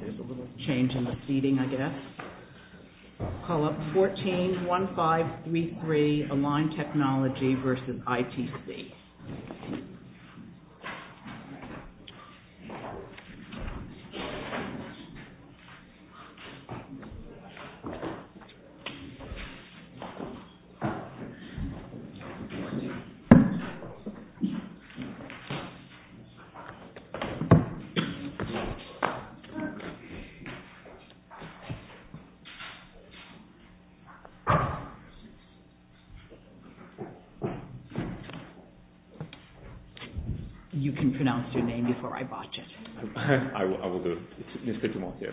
There's a little change in the seating, I guess. Call up 14-1533, Align Technology versus ITC. You can pronounce your name before I botch it. I will do. It's Mr. Timothy.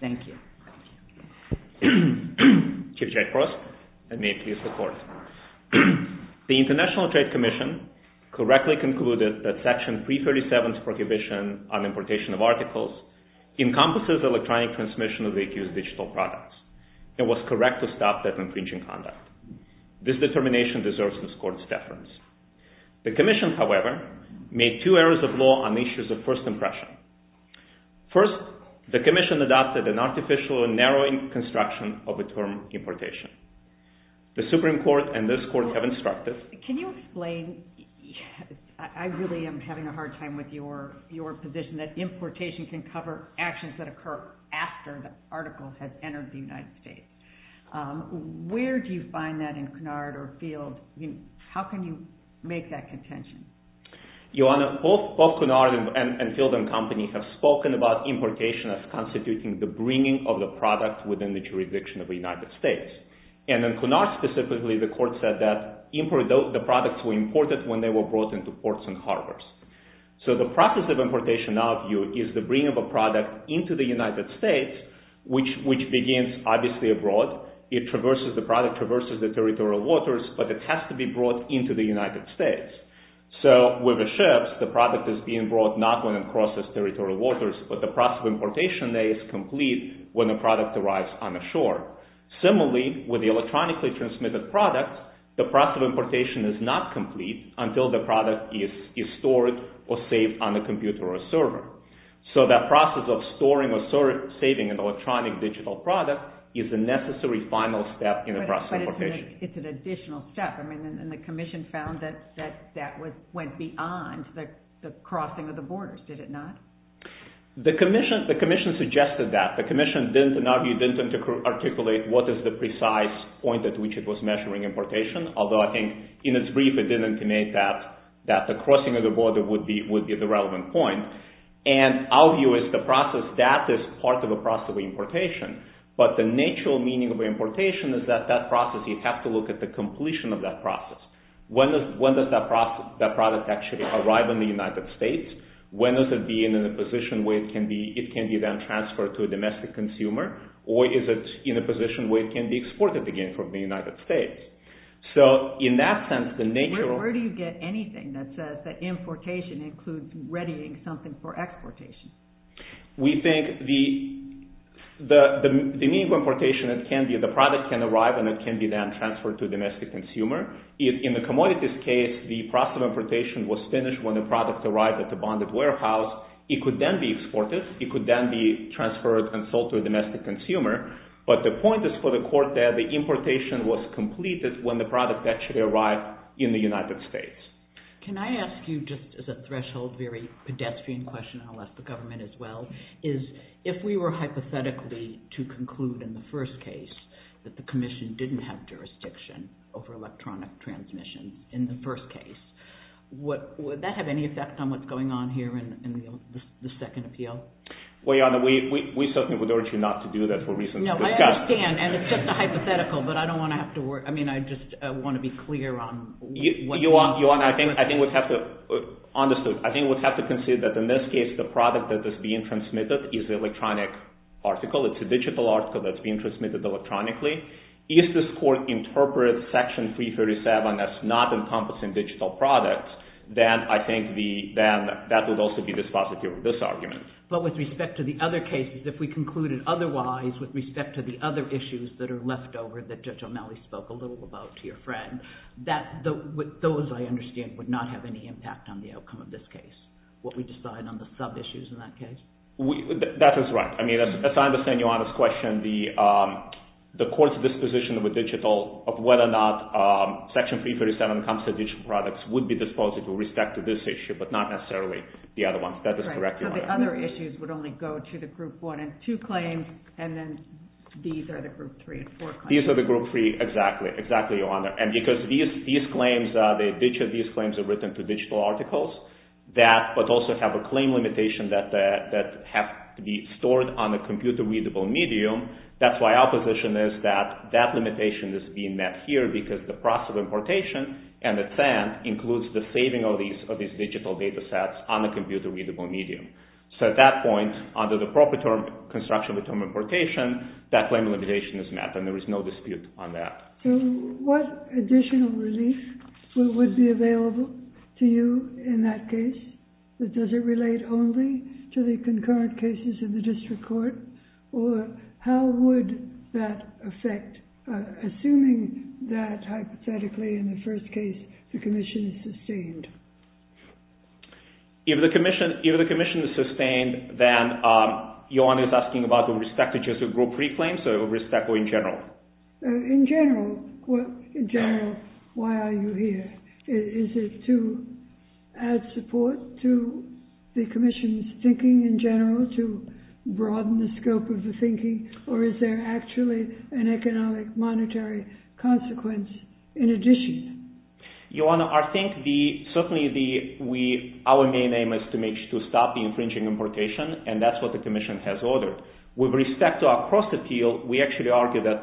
Thank you. Chief Jack Frost, and may it please the Court. The International Trade Commission correctly concluded that Section 337's prohibition on encompasses electronic transmission of the accused's digital products, and was correct to stop that infringing conduct. This determination deserves this Court's deference. The Commission, however, made two errors of law on issues of first impression. First, the Commission adopted an artificial and narrowing construction of the term importation. The Supreme Court and this Court have instructed… Can you explain, I really am having a hard time with your position that importation can cover actions that occur after the article has entered the United States. Where do you find that in Cunard or Field? How can you make that contention? Your Honor, both Cunard and Field and Company have spoken about importation as constituting the bringing of the product within the jurisdiction of the United States. And in Cunard specifically, the Court said that the products were imported when they were brought into ports and harbors. So the process of importation, now, is the bringing of a product into the United States, which begins, obviously, abroad. The product traverses the territorial waters, but it has to be brought into the United States. So with the ships, the product is being brought not when it crosses territorial waters, but the process of importation is complete when the product arrives on the shore. Similarly, with the electronically transmitted product, the process of importation is not stored or saved on a computer or server. So that process of storing or saving an electronic digital product is the necessary final step in the process of importation. But it's an additional step. I mean, and the Commission found that that went beyond the crossing of the borders, did it not? The Commission suggested that. The Commission, in our view, didn't articulate what is the precise point at which it was measuring importation, although I think, in its brief, it did indicate that the crossing of the border would be the relevant point. And our view is the process, that is part of the process of importation. But the natural meaning of importation is that that process, you have to look at the completion of that process. When does that product actually arrive in the United States? When does it be in a position where it can be then transferred to a domestic consumer? Or is it in a position where it can be exported again from the United States? So in that sense, the nature of... Where do you get anything that says that importation includes readying something for exportation? We think the meaning of importation, the product can arrive and it can be then transferred to a domestic consumer. In the commodities case, the process of importation was finished when the product arrived at the bonded warehouse. It could then be exported. It could then be transferred and sold to a domestic consumer. But the point is for the court that the importation was completed when the product actually arrived in the United States. Can I ask you, just as a threshold, very pedestrian question, unless the government as well, is if we were hypothetically to conclude in the first case that the commission didn't have jurisdiction over electronic transmission in the first case, would that have any effect on what's going on here in the second appeal? Well, Your Honor, we certainly would urge you not to do that for reasons we've discussed. No, I understand. And it's just a hypothetical. But I don't want to have to worry... I mean, I just want to be clear on what... Your Honor, I think we'd have to... Understood. I think we'd have to consider that in this case, the product that is being transmitted is the electronic article. It's a digital article that's being transmitted electronically. If this court interprets Section 337 as not encompassing digital products, then I think that would also be dispositive of this argument. But with respect to the other cases, if we concluded otherwise with respect to the other issues that are left over that Judge O'Malley spoke a little about to your friend, those, I understand, would not have any impact on the outcome of this case, what we decide on the sub-issues in that case? That is right. I mean, as I understand Your Honor's question, the court's disposition with digital of whether or not Section 337 encompasses digital products would be dispositive with respect to this issue, but not necessarily the other ones. That is correct, Your Honor. So the other issues would only go to the Group 1 and 2 claims, and then these are the Group 3 and 4 claims. These are the Group 3... Exactly. Exactly, Your Honor. And because these claims, each of these claims are written to digital articles that... But also have a claim limitation that have to be stored on a computer-readable medium. That's why our position is that that limitation is being met here because the process of importation and its end includes the saving of these digital data sets on a computer-readable medium. So at that point, under the proper term, construction of a term of importation, that claim limitation is met, and there is no dispute on that. What additional relief would be available to you in that case, but does it relate only to the concurrent cases in the district court, or how would that affect, assuming that, hypothetically, in the first case, the commission is sustained? If the commission is sustained, then Your Honor is asking about the respect to just the Group 3 claims, or respect in general? In general. In general, why are you here? Is it to add support to the commission's thinking in general, to broaden the scope of the thinking, or is there actually an economic monetary consequence in addition? Your Honor, I think certainly our main aim is to stop the infringing importation, and that's what the commission has ordered. With respect to our cross-appeal, we actually argue that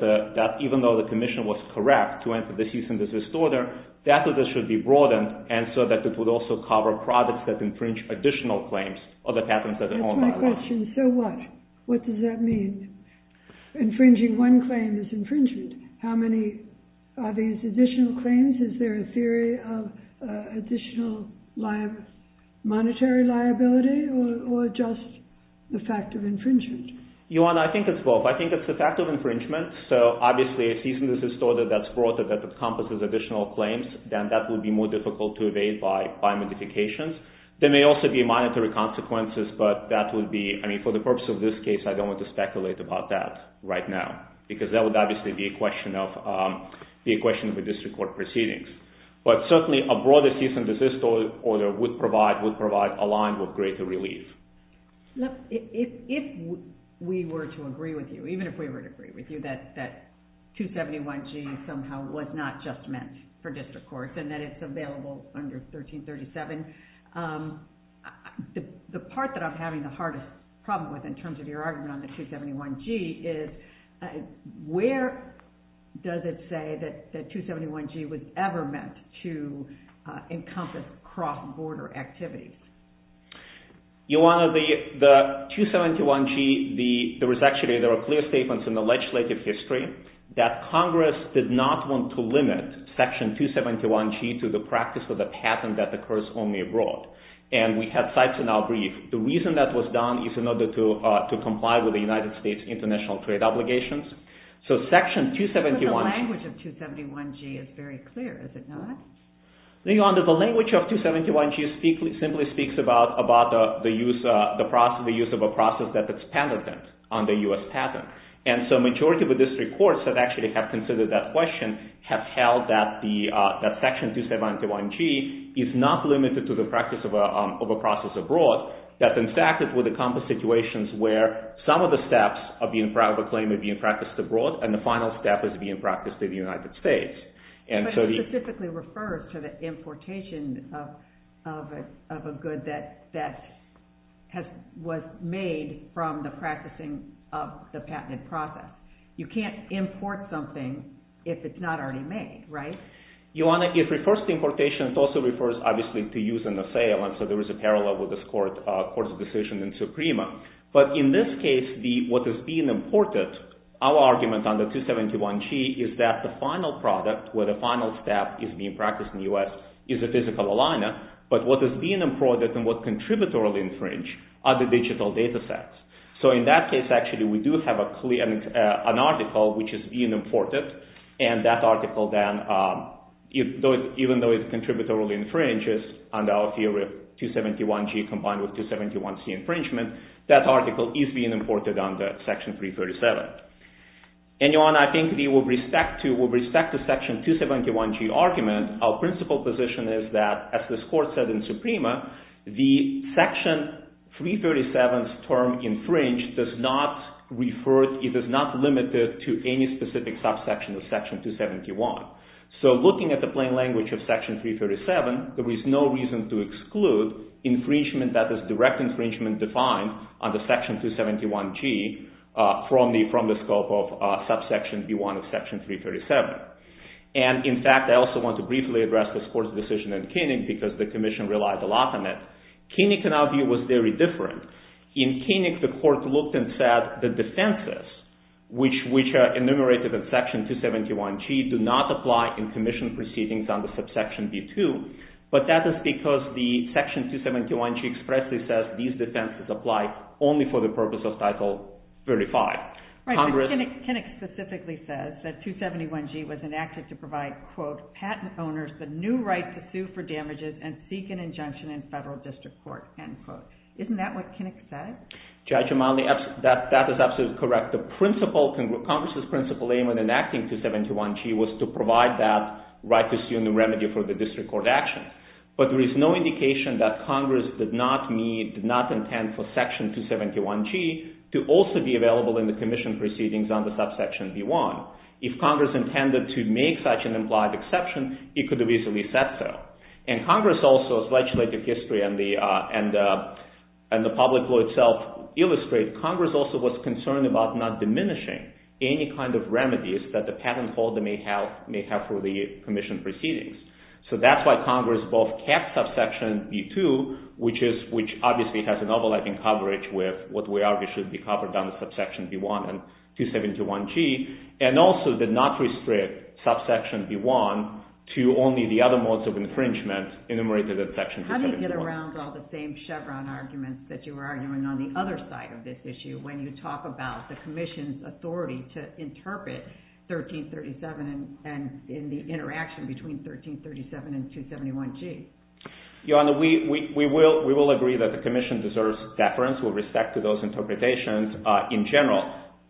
even though the commission was correct to enter the cease and desist order, that order should be broadened, and so that it would also cover products that infringe additional claims, or the patents that are owned by the law. That's my question. So what? What does that mean? Infringing one claim is infringement. How many are these additional claims? Is there a theory of additional monetary liability, or just the fact of infringement? Your Honor, I think it's both. I think it's the fact of infringement. So, obviously, a cease and desist order that's broader, that encompasses additional claims, then that would be more difficult to evade by modifications. There may also be monetary consequences, but that would be... I mean, for the purpose of this case, I don't want to speculate about that right now, because that would obviously be a question of a district court proceedings. But certainly, a broader cease and desist order would provide a line of greater relief. Look, if we were to agree with you, even if we were to agree with you, that 271G somehow was not just meant for district courts, and that it's available under 1337, the part that I'm having the hardest problem with, in terms of your argument on the 271G, is where does it say that 271G was ever meant to encompass cross-border activities? Your Honor, the 271G, there are clear statements in the legislative history that Congress did not want to limit Section 271G to the practice of a patent that occurs only abroad. And we had sites in our brief. The reason that was done is in order to comply with the United States international trade obligations. So, Section 271G... But the language of 271G is very clear, is it not? Your Honor, the language of 271G simply speaks about the use of a process that's patented, under U.S. patent. And so majority of the district courts that actually have considered that question have held that Section 271G is not limited to the practice of a process abroad, that in fact it would encompass situations where some of the steps of a claim are being practiced abroad, and the final step is being practiced in the United States. But it specifically refers to the importation of a good that was made from the practicing of the patented process. You can't import something if it's not already made, right? Your Honor, it refers to importation. It also refers, obviously, to use in the sale. And so there is a parallel with this Court's decision in Suprema. But in this case, what is being imported, our argument on the 271G is that the final product, where the final step is being practiced in the U.S., is a physical aligner. But what is being imported and what is contributory infringed are the digital data sets. So in that case, actually, we do have an article which is being imported, and that article then, even though it's contributory infringed under our theory of 271G combined with 271C infringement, that article is being imported under Section 337. And, Your Honor, I think with respect to Section 271G argument, our principal position is that, as this Court said in Suprema, the Section 337's term infringed does not refer, it is not limited to any specific subsection of Section 271. So looking at the plain language of Section 337, there is no reason to exclude infringement that is direct infringement defined under Section 271G from the scope of subsection B1 of Section 337. And, in fact, I also want to briefly address this Court's decision in Koenig because the Commission relied a lot on it. Koenig, in our view, was very different. In Koenig, the Court looked and said the defenses, which are enumerated in Section 271G, do not apply in Commission proceedings under subsection B2, but that is because Section 271G expressly says these defenses apply only for the purpose of Title 35. Right, but Koenig specifically says that 271G was enacted to provide quote, patent owners the new right to sue for damages and seek an injunction in federal district court, end quote. Isn't that what Koenig said? Judge Amali, that is absolutely correct. The Congress' principal aim in enacting 271G was to provide that right to sue and the remedy for the district court action. But there is no indication that Congress did not need, did not intend for Section 271G to also be available in the Commission proceedings under subsection B1. If Congress intended to make such an implied exception, it could have easily said so. And Congress also, as legislative history and the public will itself illustrate, Congress also was concerned about not diminishing any kind of remedies that the patent holder may have for the Commission proceedings. So that's why Congress both kept subsection B2, which obviously has an overlapping coverage with what we argue should be covered under subsection B1 and 271G, and also did not restrict subsection B1 to only the other modes of infringement enumerated in Section 271. How do you get around all the same Chevron arguments that you were arguing on the other side of this issue when you talk about the Commission's authority to interpret 1337 and the interaction between 1337 and 271G? Your Honor, we will agree that the Commission deserves deference with respect to those interpretations in general.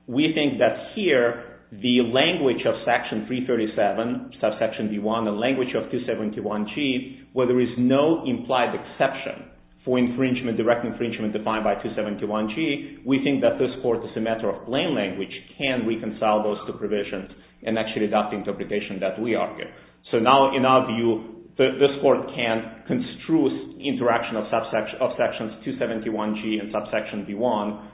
We think that here the language of Section 337, subsection B1, the language of 271G, where there is no implied exception for infringement, direct infringement defined by 271G, we think that this Court is a matter of plain language, can reconcile those two provisions and actually adopt the interpretation that we argue. So now, in our view, this Court can construe interaction of sections 271G and subsection B1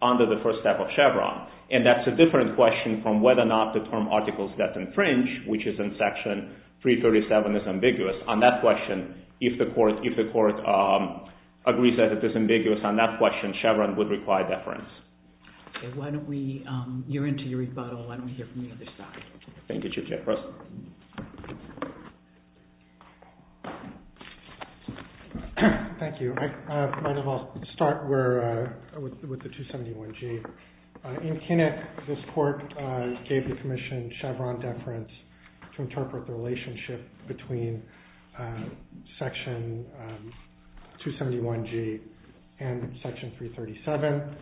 under the first step of Chevron. And that's a different question from whether or not the term articles that infringe, which is in Section 337, is ambiguous. On that question, if the Court agrees that it is ambiguous on that question, then Chevron would require deference. Okay. You're into your rebuttal. Let me hear from the other side. Thank you, Chief Justice. Thank you. I might as well start with the 271G. In Kinnick, this Court gave the Commission Chevron deference to interpret the relationship between Section 271G and Section 337.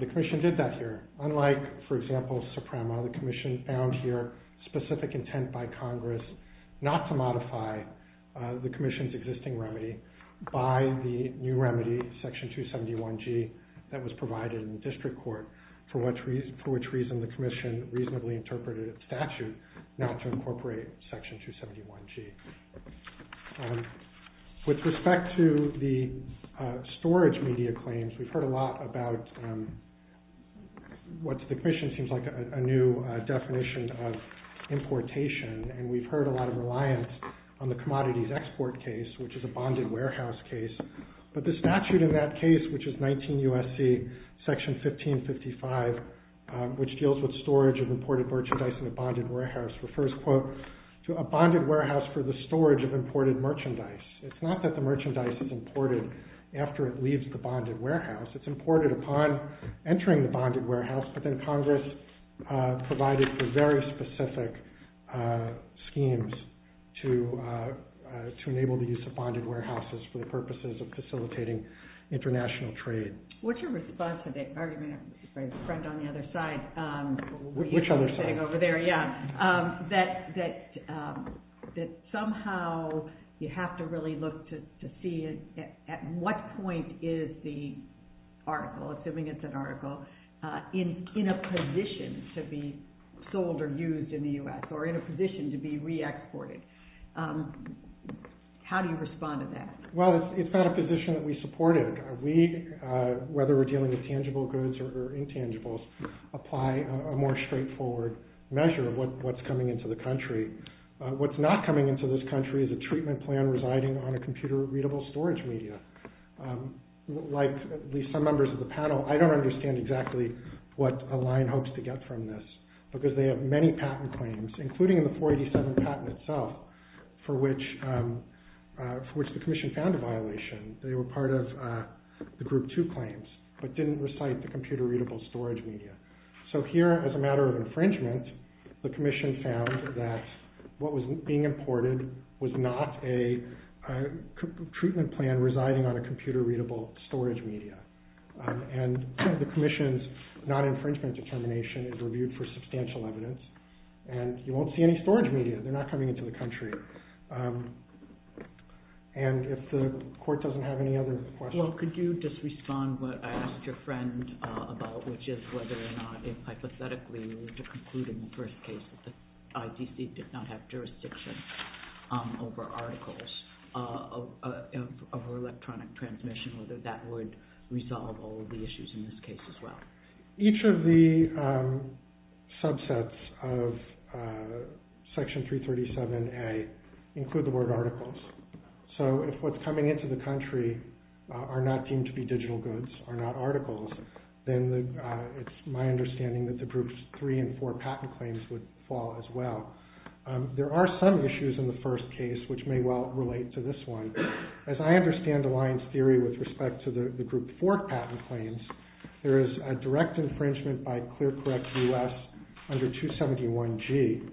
The Commission did that here. Unlike, for example, Suprema, the Commission found here specific intent by Congress not to modify the Commission's existing remedy by the new remedy, Section 271G, that was provided in District Court, for which reason the Commission reasonably interpreted a statute not to incorporate Section 271G. With respect to the storage media claims, we've heard a lot about what the Commission seems like a new definition of importation, and we've heard a lot of reliance on the commodities export case, which is a bonded warehouse case. But the statute in that case, which is 19 U.S.C. Section 1555, which deals with storage of imported merchandise in a bonded warehouse, refers, quote, to a bonded warehouse for the storage of imported merchandise. It's not that the merchandise is imported after it leaves the bonded warehouse. It's imported upon entering the bonded warehouse, but then Congress provided for very specific schemes to enable the use of bonded warehouses for the purposes of facilitating international trade. What's your response to the argument by the friend on the other side? Which other side? The thing over there, yeah, that somehow you have to really look to see at what point is the article, assuming it's an article, in a position to be sold or used in the U.S., or in a position to be re-exported? How do you respond to that? Well, it's not a position that we supported. We, whether we're dealing with tangible goods or intangibles, apply a more straightforward measure of what's coming into the country. What's not coming into this country is a treatment plan residing on a computer-readable storage media. Like at least some members of the panel, I don't understand exactly what Align hopes to get from this, because they have many patent claims, including the 487 patent itself, for which the Commission found a violation. They were part of the Group 2 claims, but didn't recite the computer-readable storage media. So here, as a matter of infringement, the Commission found that what was being imported was not a treatment plan residing on a computer-readable storage media. And the Commission's non-infringement determination is reviewed for substantial evidence. And you won't see any storage media. They're not coming into the country. And if the Court doesn't have any other questions... Well, could you just respond to what I asked your friend about, which is whether or not, if hypothetically, you were to conclude in the first case that the IDC did not have jurisdiction over articles, over electronic transmission, whether that would resolve all of the issues in this case as well. Each of the subsets of Section 337A include the word articles. So if what's coming into the country are not deemed to be digital goods, are not articles, then it's my understanding that the Groups 3 and 4 patent claims would fall as well. There are some issues in the first case, which may well relate to this one. As I understand Alliance theory with respect to the Group 4 patent claims, there is a direct infringement by ClearCorrect US under 271G.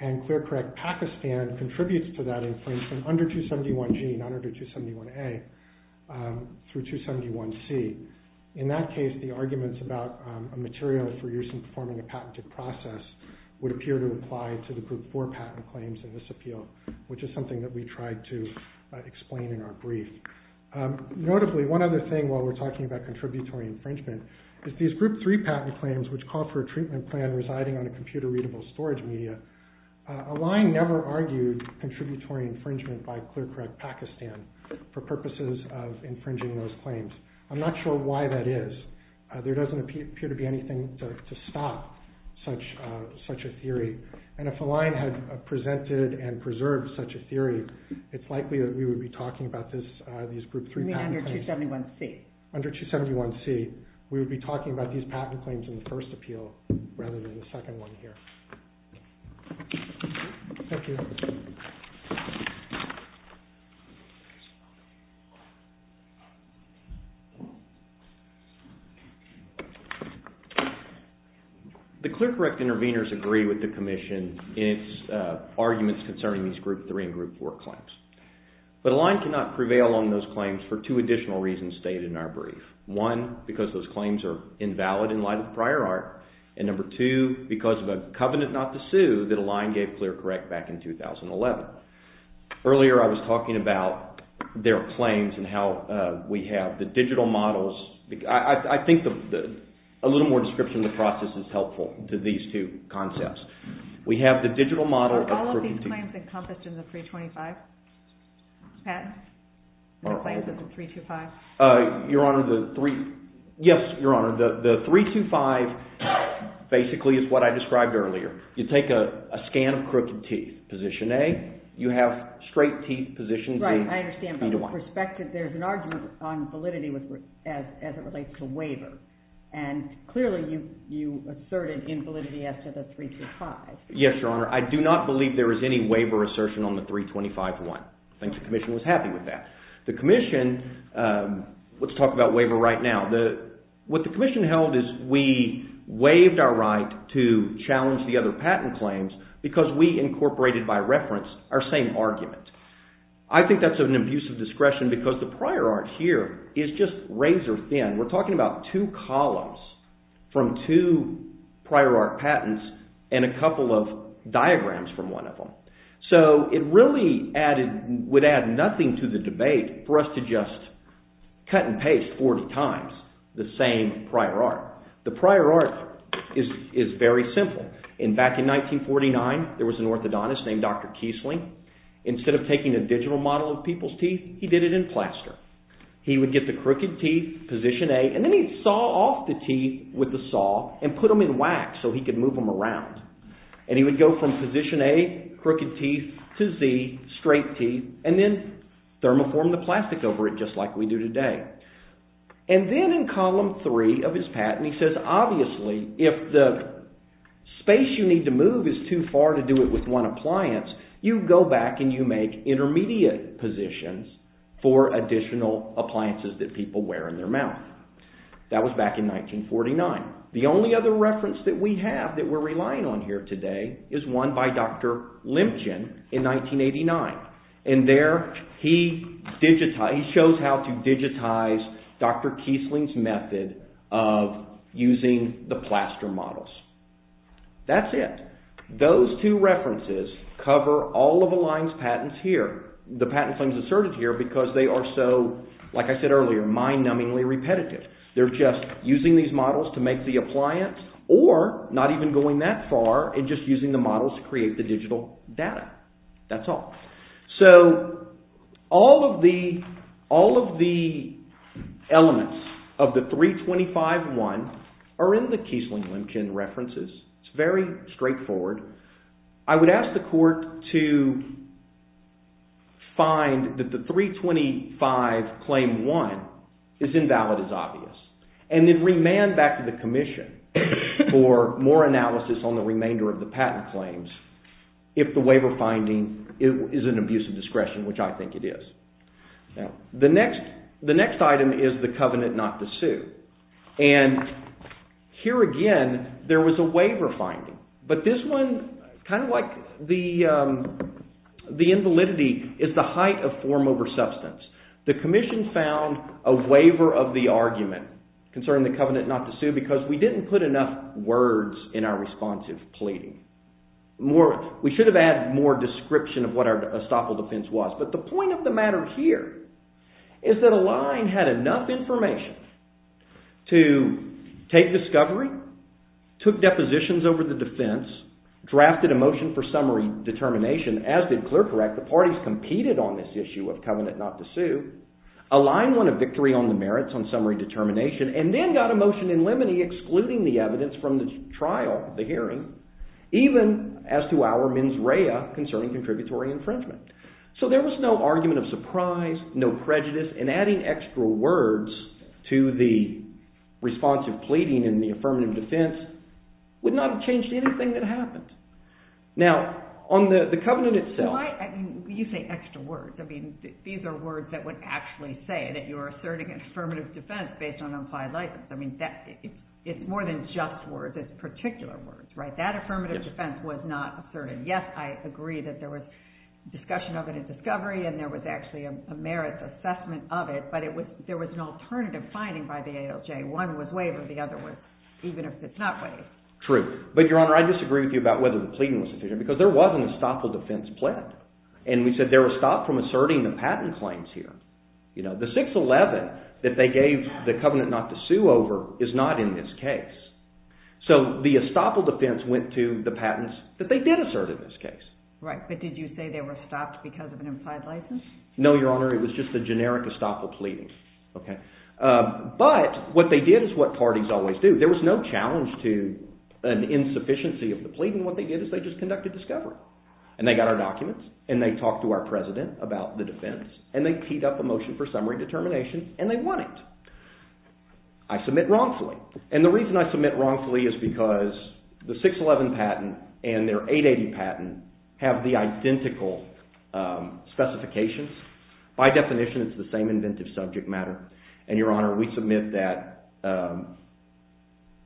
And ClearCorrect Pakistan contributes to that infringement under 271G, not under 271A, through 271C. In that case, the arguments about a material for use in performing a patented process would appear to apply to the Group 4 patent claims in this appeal, which is something that we tried to explain in our brief. Notably, one other thing while we're talking about contributory infringement is these Group 3 patent claims, which call for a treatment plan residing on a computer-readable storage media, Align never argued contributory infringement by ClearCorrect Pakistan for purposes of infringing those claims. I'm not sure why that is. There doesn't appear to be anything to stop such a theory. And if Align had presented and preserved such a theory, it's likely that we would be talking about these Group 3 patent claims. You mean under 271C? Under 271C. We would be talking about these patent claims in the first appeal rather than the second one here. Thank you. The ClearCorrect intervenors agree with the Commission in its arguments concerning these Group 3 and Group 4 claims. But Align cannot prevail on those claims for two additional reasons stated in our brief. One, because those claims are invalid in light of prior art. And number two, because of a covenant not to sue that Align gave ClearCorrect back in 2011. Earlier I was talking about their claims and how we have the digital models. I think a little more description of the process is helpful to these two concepts. We have the digital model of crooked teeth. Are all of these claims encompassed in the 325? Pat? The claims of the 325? Your Honor, the 325 basically is what I described earlier. You take a scan of crooked teeth, position A. You have straight teeth, position B. Right, I understand. But there's an argument on validity as it relates to waiver. And clearly you asserted invalidity as to the 325. Yes, Your Honor. I do not believe there is any waiver assertion on the 325-1. I think the Commission was happy with that. The Commission, let's talk about waiver right now. What the Commission held is we waived our right to challenge the other patent claims because we incorporated by reference our same argument. I think that's an abuse of discretion because the prior art here is just razor thin. We're talking about two columns from two prior art patents and a couple of diagrams from one of them. So it really would add nothing to the debate for us to just cut and paste 40 times the same prior art. The prior art is very simple. Back in 1949, there was an orthodontist named Dr. Kiesling. Instead of taking a digital model of people's teeth, he did it in plaster. He would get the crooked teeth, position A, and then he'd saw off the teeth with the saw and put them in wax so he could move them around. And he would go from position A, crooked teeth, to Z, straight teeth, and then thermoform the plastic over it just like we do today. And then in column 3 of his patent he says, obviously if the space you need to move is too far to do it with one appliance, you go back and you make intermediate positions for additional appliances that people wear in their mouth. That was back in 1949. The only other reference that we have that we're relying on here today is one by Dr. Lemchin in 1989. And there he shows how to digitize Dr. Kiesling's method of using the plaster models. That's it. Those two references cover all of Align's patents here. The patent claims asserted here because they are so, like I said earlier, mind-numbingly repetitive. They're just using these models to make the appliance or not even going that far and just using the models to create the digital data. That's all. So all of the elements of the 325-1 are in the Kiesling-Lemchin references. It's very straightforward. I would ask the court to find that the 325-claim-1 is invalid as obvious and then remand back to the commission for more analysis on the remainder of the patent claims if the waiver finding is an abuse of discretion, which I think it is. The next item is the covenant not to sue. And here again, there was a waiver finding, but this one, kind of like the invalidity, is the height of form over substance. The commission found a waiver of the argument concerning the covenant not to sue because we didn't put enough words in our responsive pleading. We should have added more description of what our estoppel defense was. But the point of the matter here is that Align had enough information to take discovery, took depositions over the defense, drafted a motion for summary determination, as did Clercorac. The parties competed on this issue of covenant not to sue. Align won a victory on the merits on summary determination and then got a motion in limine excluding the evidence from the trial, the hearing, even as to our mens rea concerning contributory infringement. So there was no argument of surprise, no prejudice, and adding extra words to the responsive pleading and the affirmative defense would not have changed anything that happened. Now, on the covenant itself... Why, I mean, you say extra words. I mean, these are words that would actually say that you're asserting an affirmative defense based on unflagged license. I mean, it's more than just words. It's particular words, right? That affirmative defense was not asserted. Yes, I agree that there was discussion of it in discovery and there was actually a merits assessment of it, but there was an alternative finding by the ALJ. One was waived and the other was... even if it's not waived. True. But, Your Honor, I disagree with you about whether the pleading was sufficient because there was an estoppel defense pled. And we said there was stop from asserting the patent claims here. The 611 that they gave the covenant not to sue over is not in this case. So the estoppel defense went to the patents that they did assert in this case. Right, but did you say they were stopped because of an implied license? No, Your Honor, it was just a generic estoppel pleading. But what they did is what parties always do. There was no challenge to an insufficiency of the pleading. What they did is they just conducted discovery, and they got our documents, and they talked to our president about the defense, and they teed up a motion for summary determination, and they won it. I submit wrongfully, and the reason I submit wrongfully is because the 611 patent and their 880 patent have the identical specifications. By definition, it's the same inventive subject matter. And, Your Honor, we submit that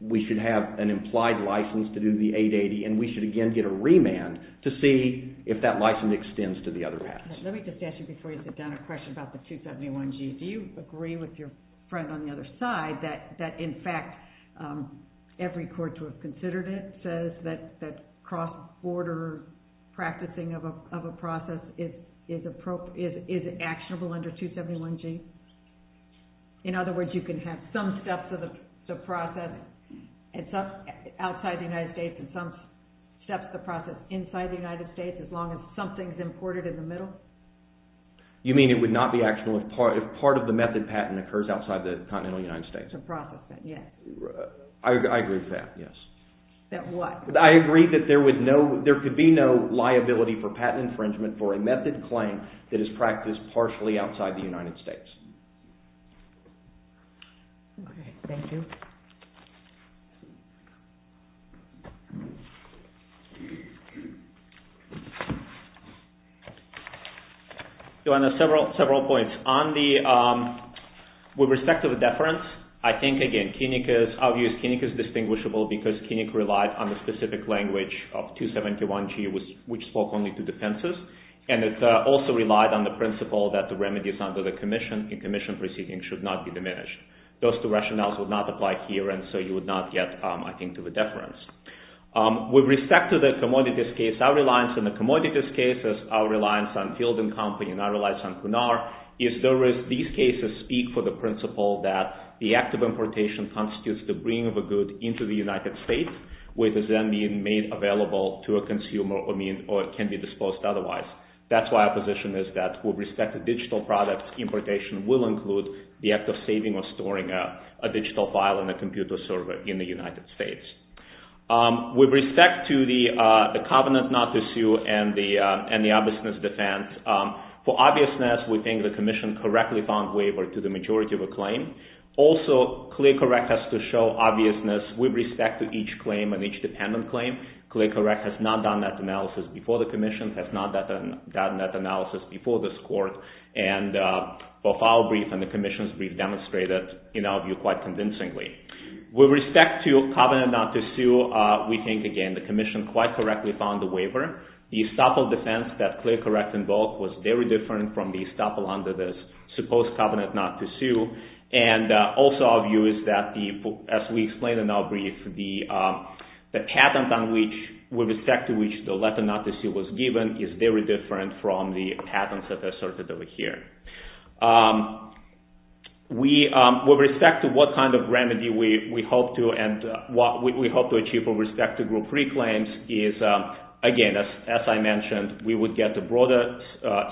we should have an implied license to do the 880, and we should again get a remand to see if that license extends to the other patents. Let me just ask you before you sit down a question about the 271G. Do you agree with your friend on the other side that in fact every court to have considered it says that cross-border practicing of a process is actionable under 271G? In other words, you can have some steps of the process outside the United States and some steps of the process inside the United States as long as something's imported in the middle? You mean it would not be actionable if part of the method patent occurs outside the continental United States? To process that, yes. I agree with that, yes. That what? I agree that there could be no liability for patent infringement for a method claim that is practiced partially outside the United States. Okay, thank you. Your Honor, several points. On the, with respect to the deference, I think, again, Kinnick is, obvious, Kinnick is distinguishable because Kinnick relied on the specific language of 271G which spoke only to defenses. And it also relied on the principle that the remedies under the commission, in commission proceedings, should not be diminished. Those two rationales would not apply here and so you would not get, I think, to the deference. With respect to the commodities case, our reliance on the commodities case is our reliance on Field & Company and our reliance on Cunard. These cases speak for the principle that the act of importation constitutes the bringing of a good into the United States with it then being made available to a consumer or can be disposed otherwise. That's why our position is that with respect to digital products, importation will include the act of saving or storing a digital file in a computer server in the United States. With respect to the covenant not to sue and the obviousness defense, for obviousness, we think the commission correctly found waiver to the majority of the claim. Also, clear correctness to show obviousness with respect to each claim and each dependent claim. Clear correctness has not done that analysis before the commission, has not done that analysis before this court and both our brief and the commission's brief demonstrated, in our view, quite convincingly. With respect to covenant not to sue, we think, again, the commission quite correctly found the waiver. The estoppel defense that clear correct in both was very different from the estoppel under this supposed covenant not to sue and also our view is that, as we explained in our brief, the patent with respect to which the letter not to sue was given is very different from the patents that are asserted over here. With respect to what kind of remedy we hope to and what we hope to achieve with respect to Group 3 claims is, again, as I mentioned, we would get the broader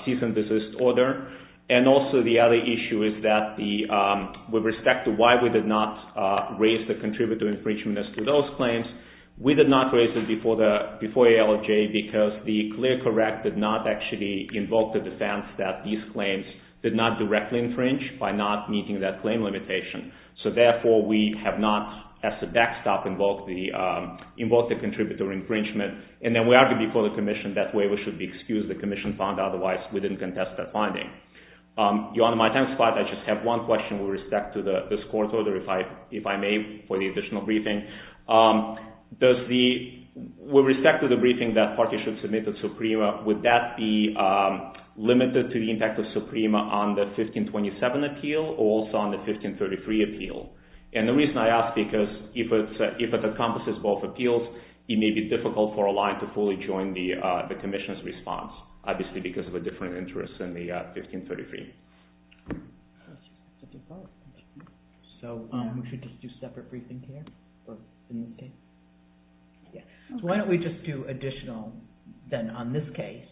cease and desist order and also the other issue is that with respect to why we did not raise the contributor infringement as to those claims, we did not raise it before ALJ because the clear correct did not actually invoke the defense that these claims did not directly infringe by not meeting that claim limitation. So, therefore, we have not, as a backstop, invoked the contributor infringement and then we argued before the commission that waiver should be excused. The commission found otherwise. We didn't contest that finding. Your Honor, my time is up. I just have one question with respect to this court order, if I may, for the additional briefing. With respect to the briefing that the party should submit to SUPREMA, would that be limited to the impact of SUPREMA on the 1527 appeal or also on the 1533 appeal? And the reason I ask is because if it encompasses both appeals, it may be difficult for ALI to fully join the commission's response, obviously because of a different interest than the 1533. So, we should just do separate briefing here? Why don't we just do additional, then, on this case,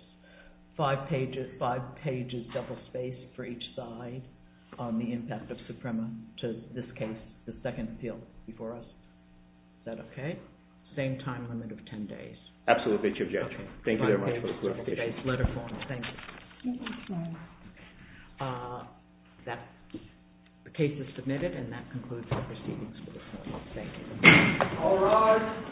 five pages double spaced for each side on the impact of SUPREMA to this case, the second appeal before us. Is that okay? Same time limit of ten days. Absolutely, Chief Judge. Thank you very much for the clarification. I apologize, letter forms, thank you. The case is submitted, and that concludes the proceedings. Thank you. All rise.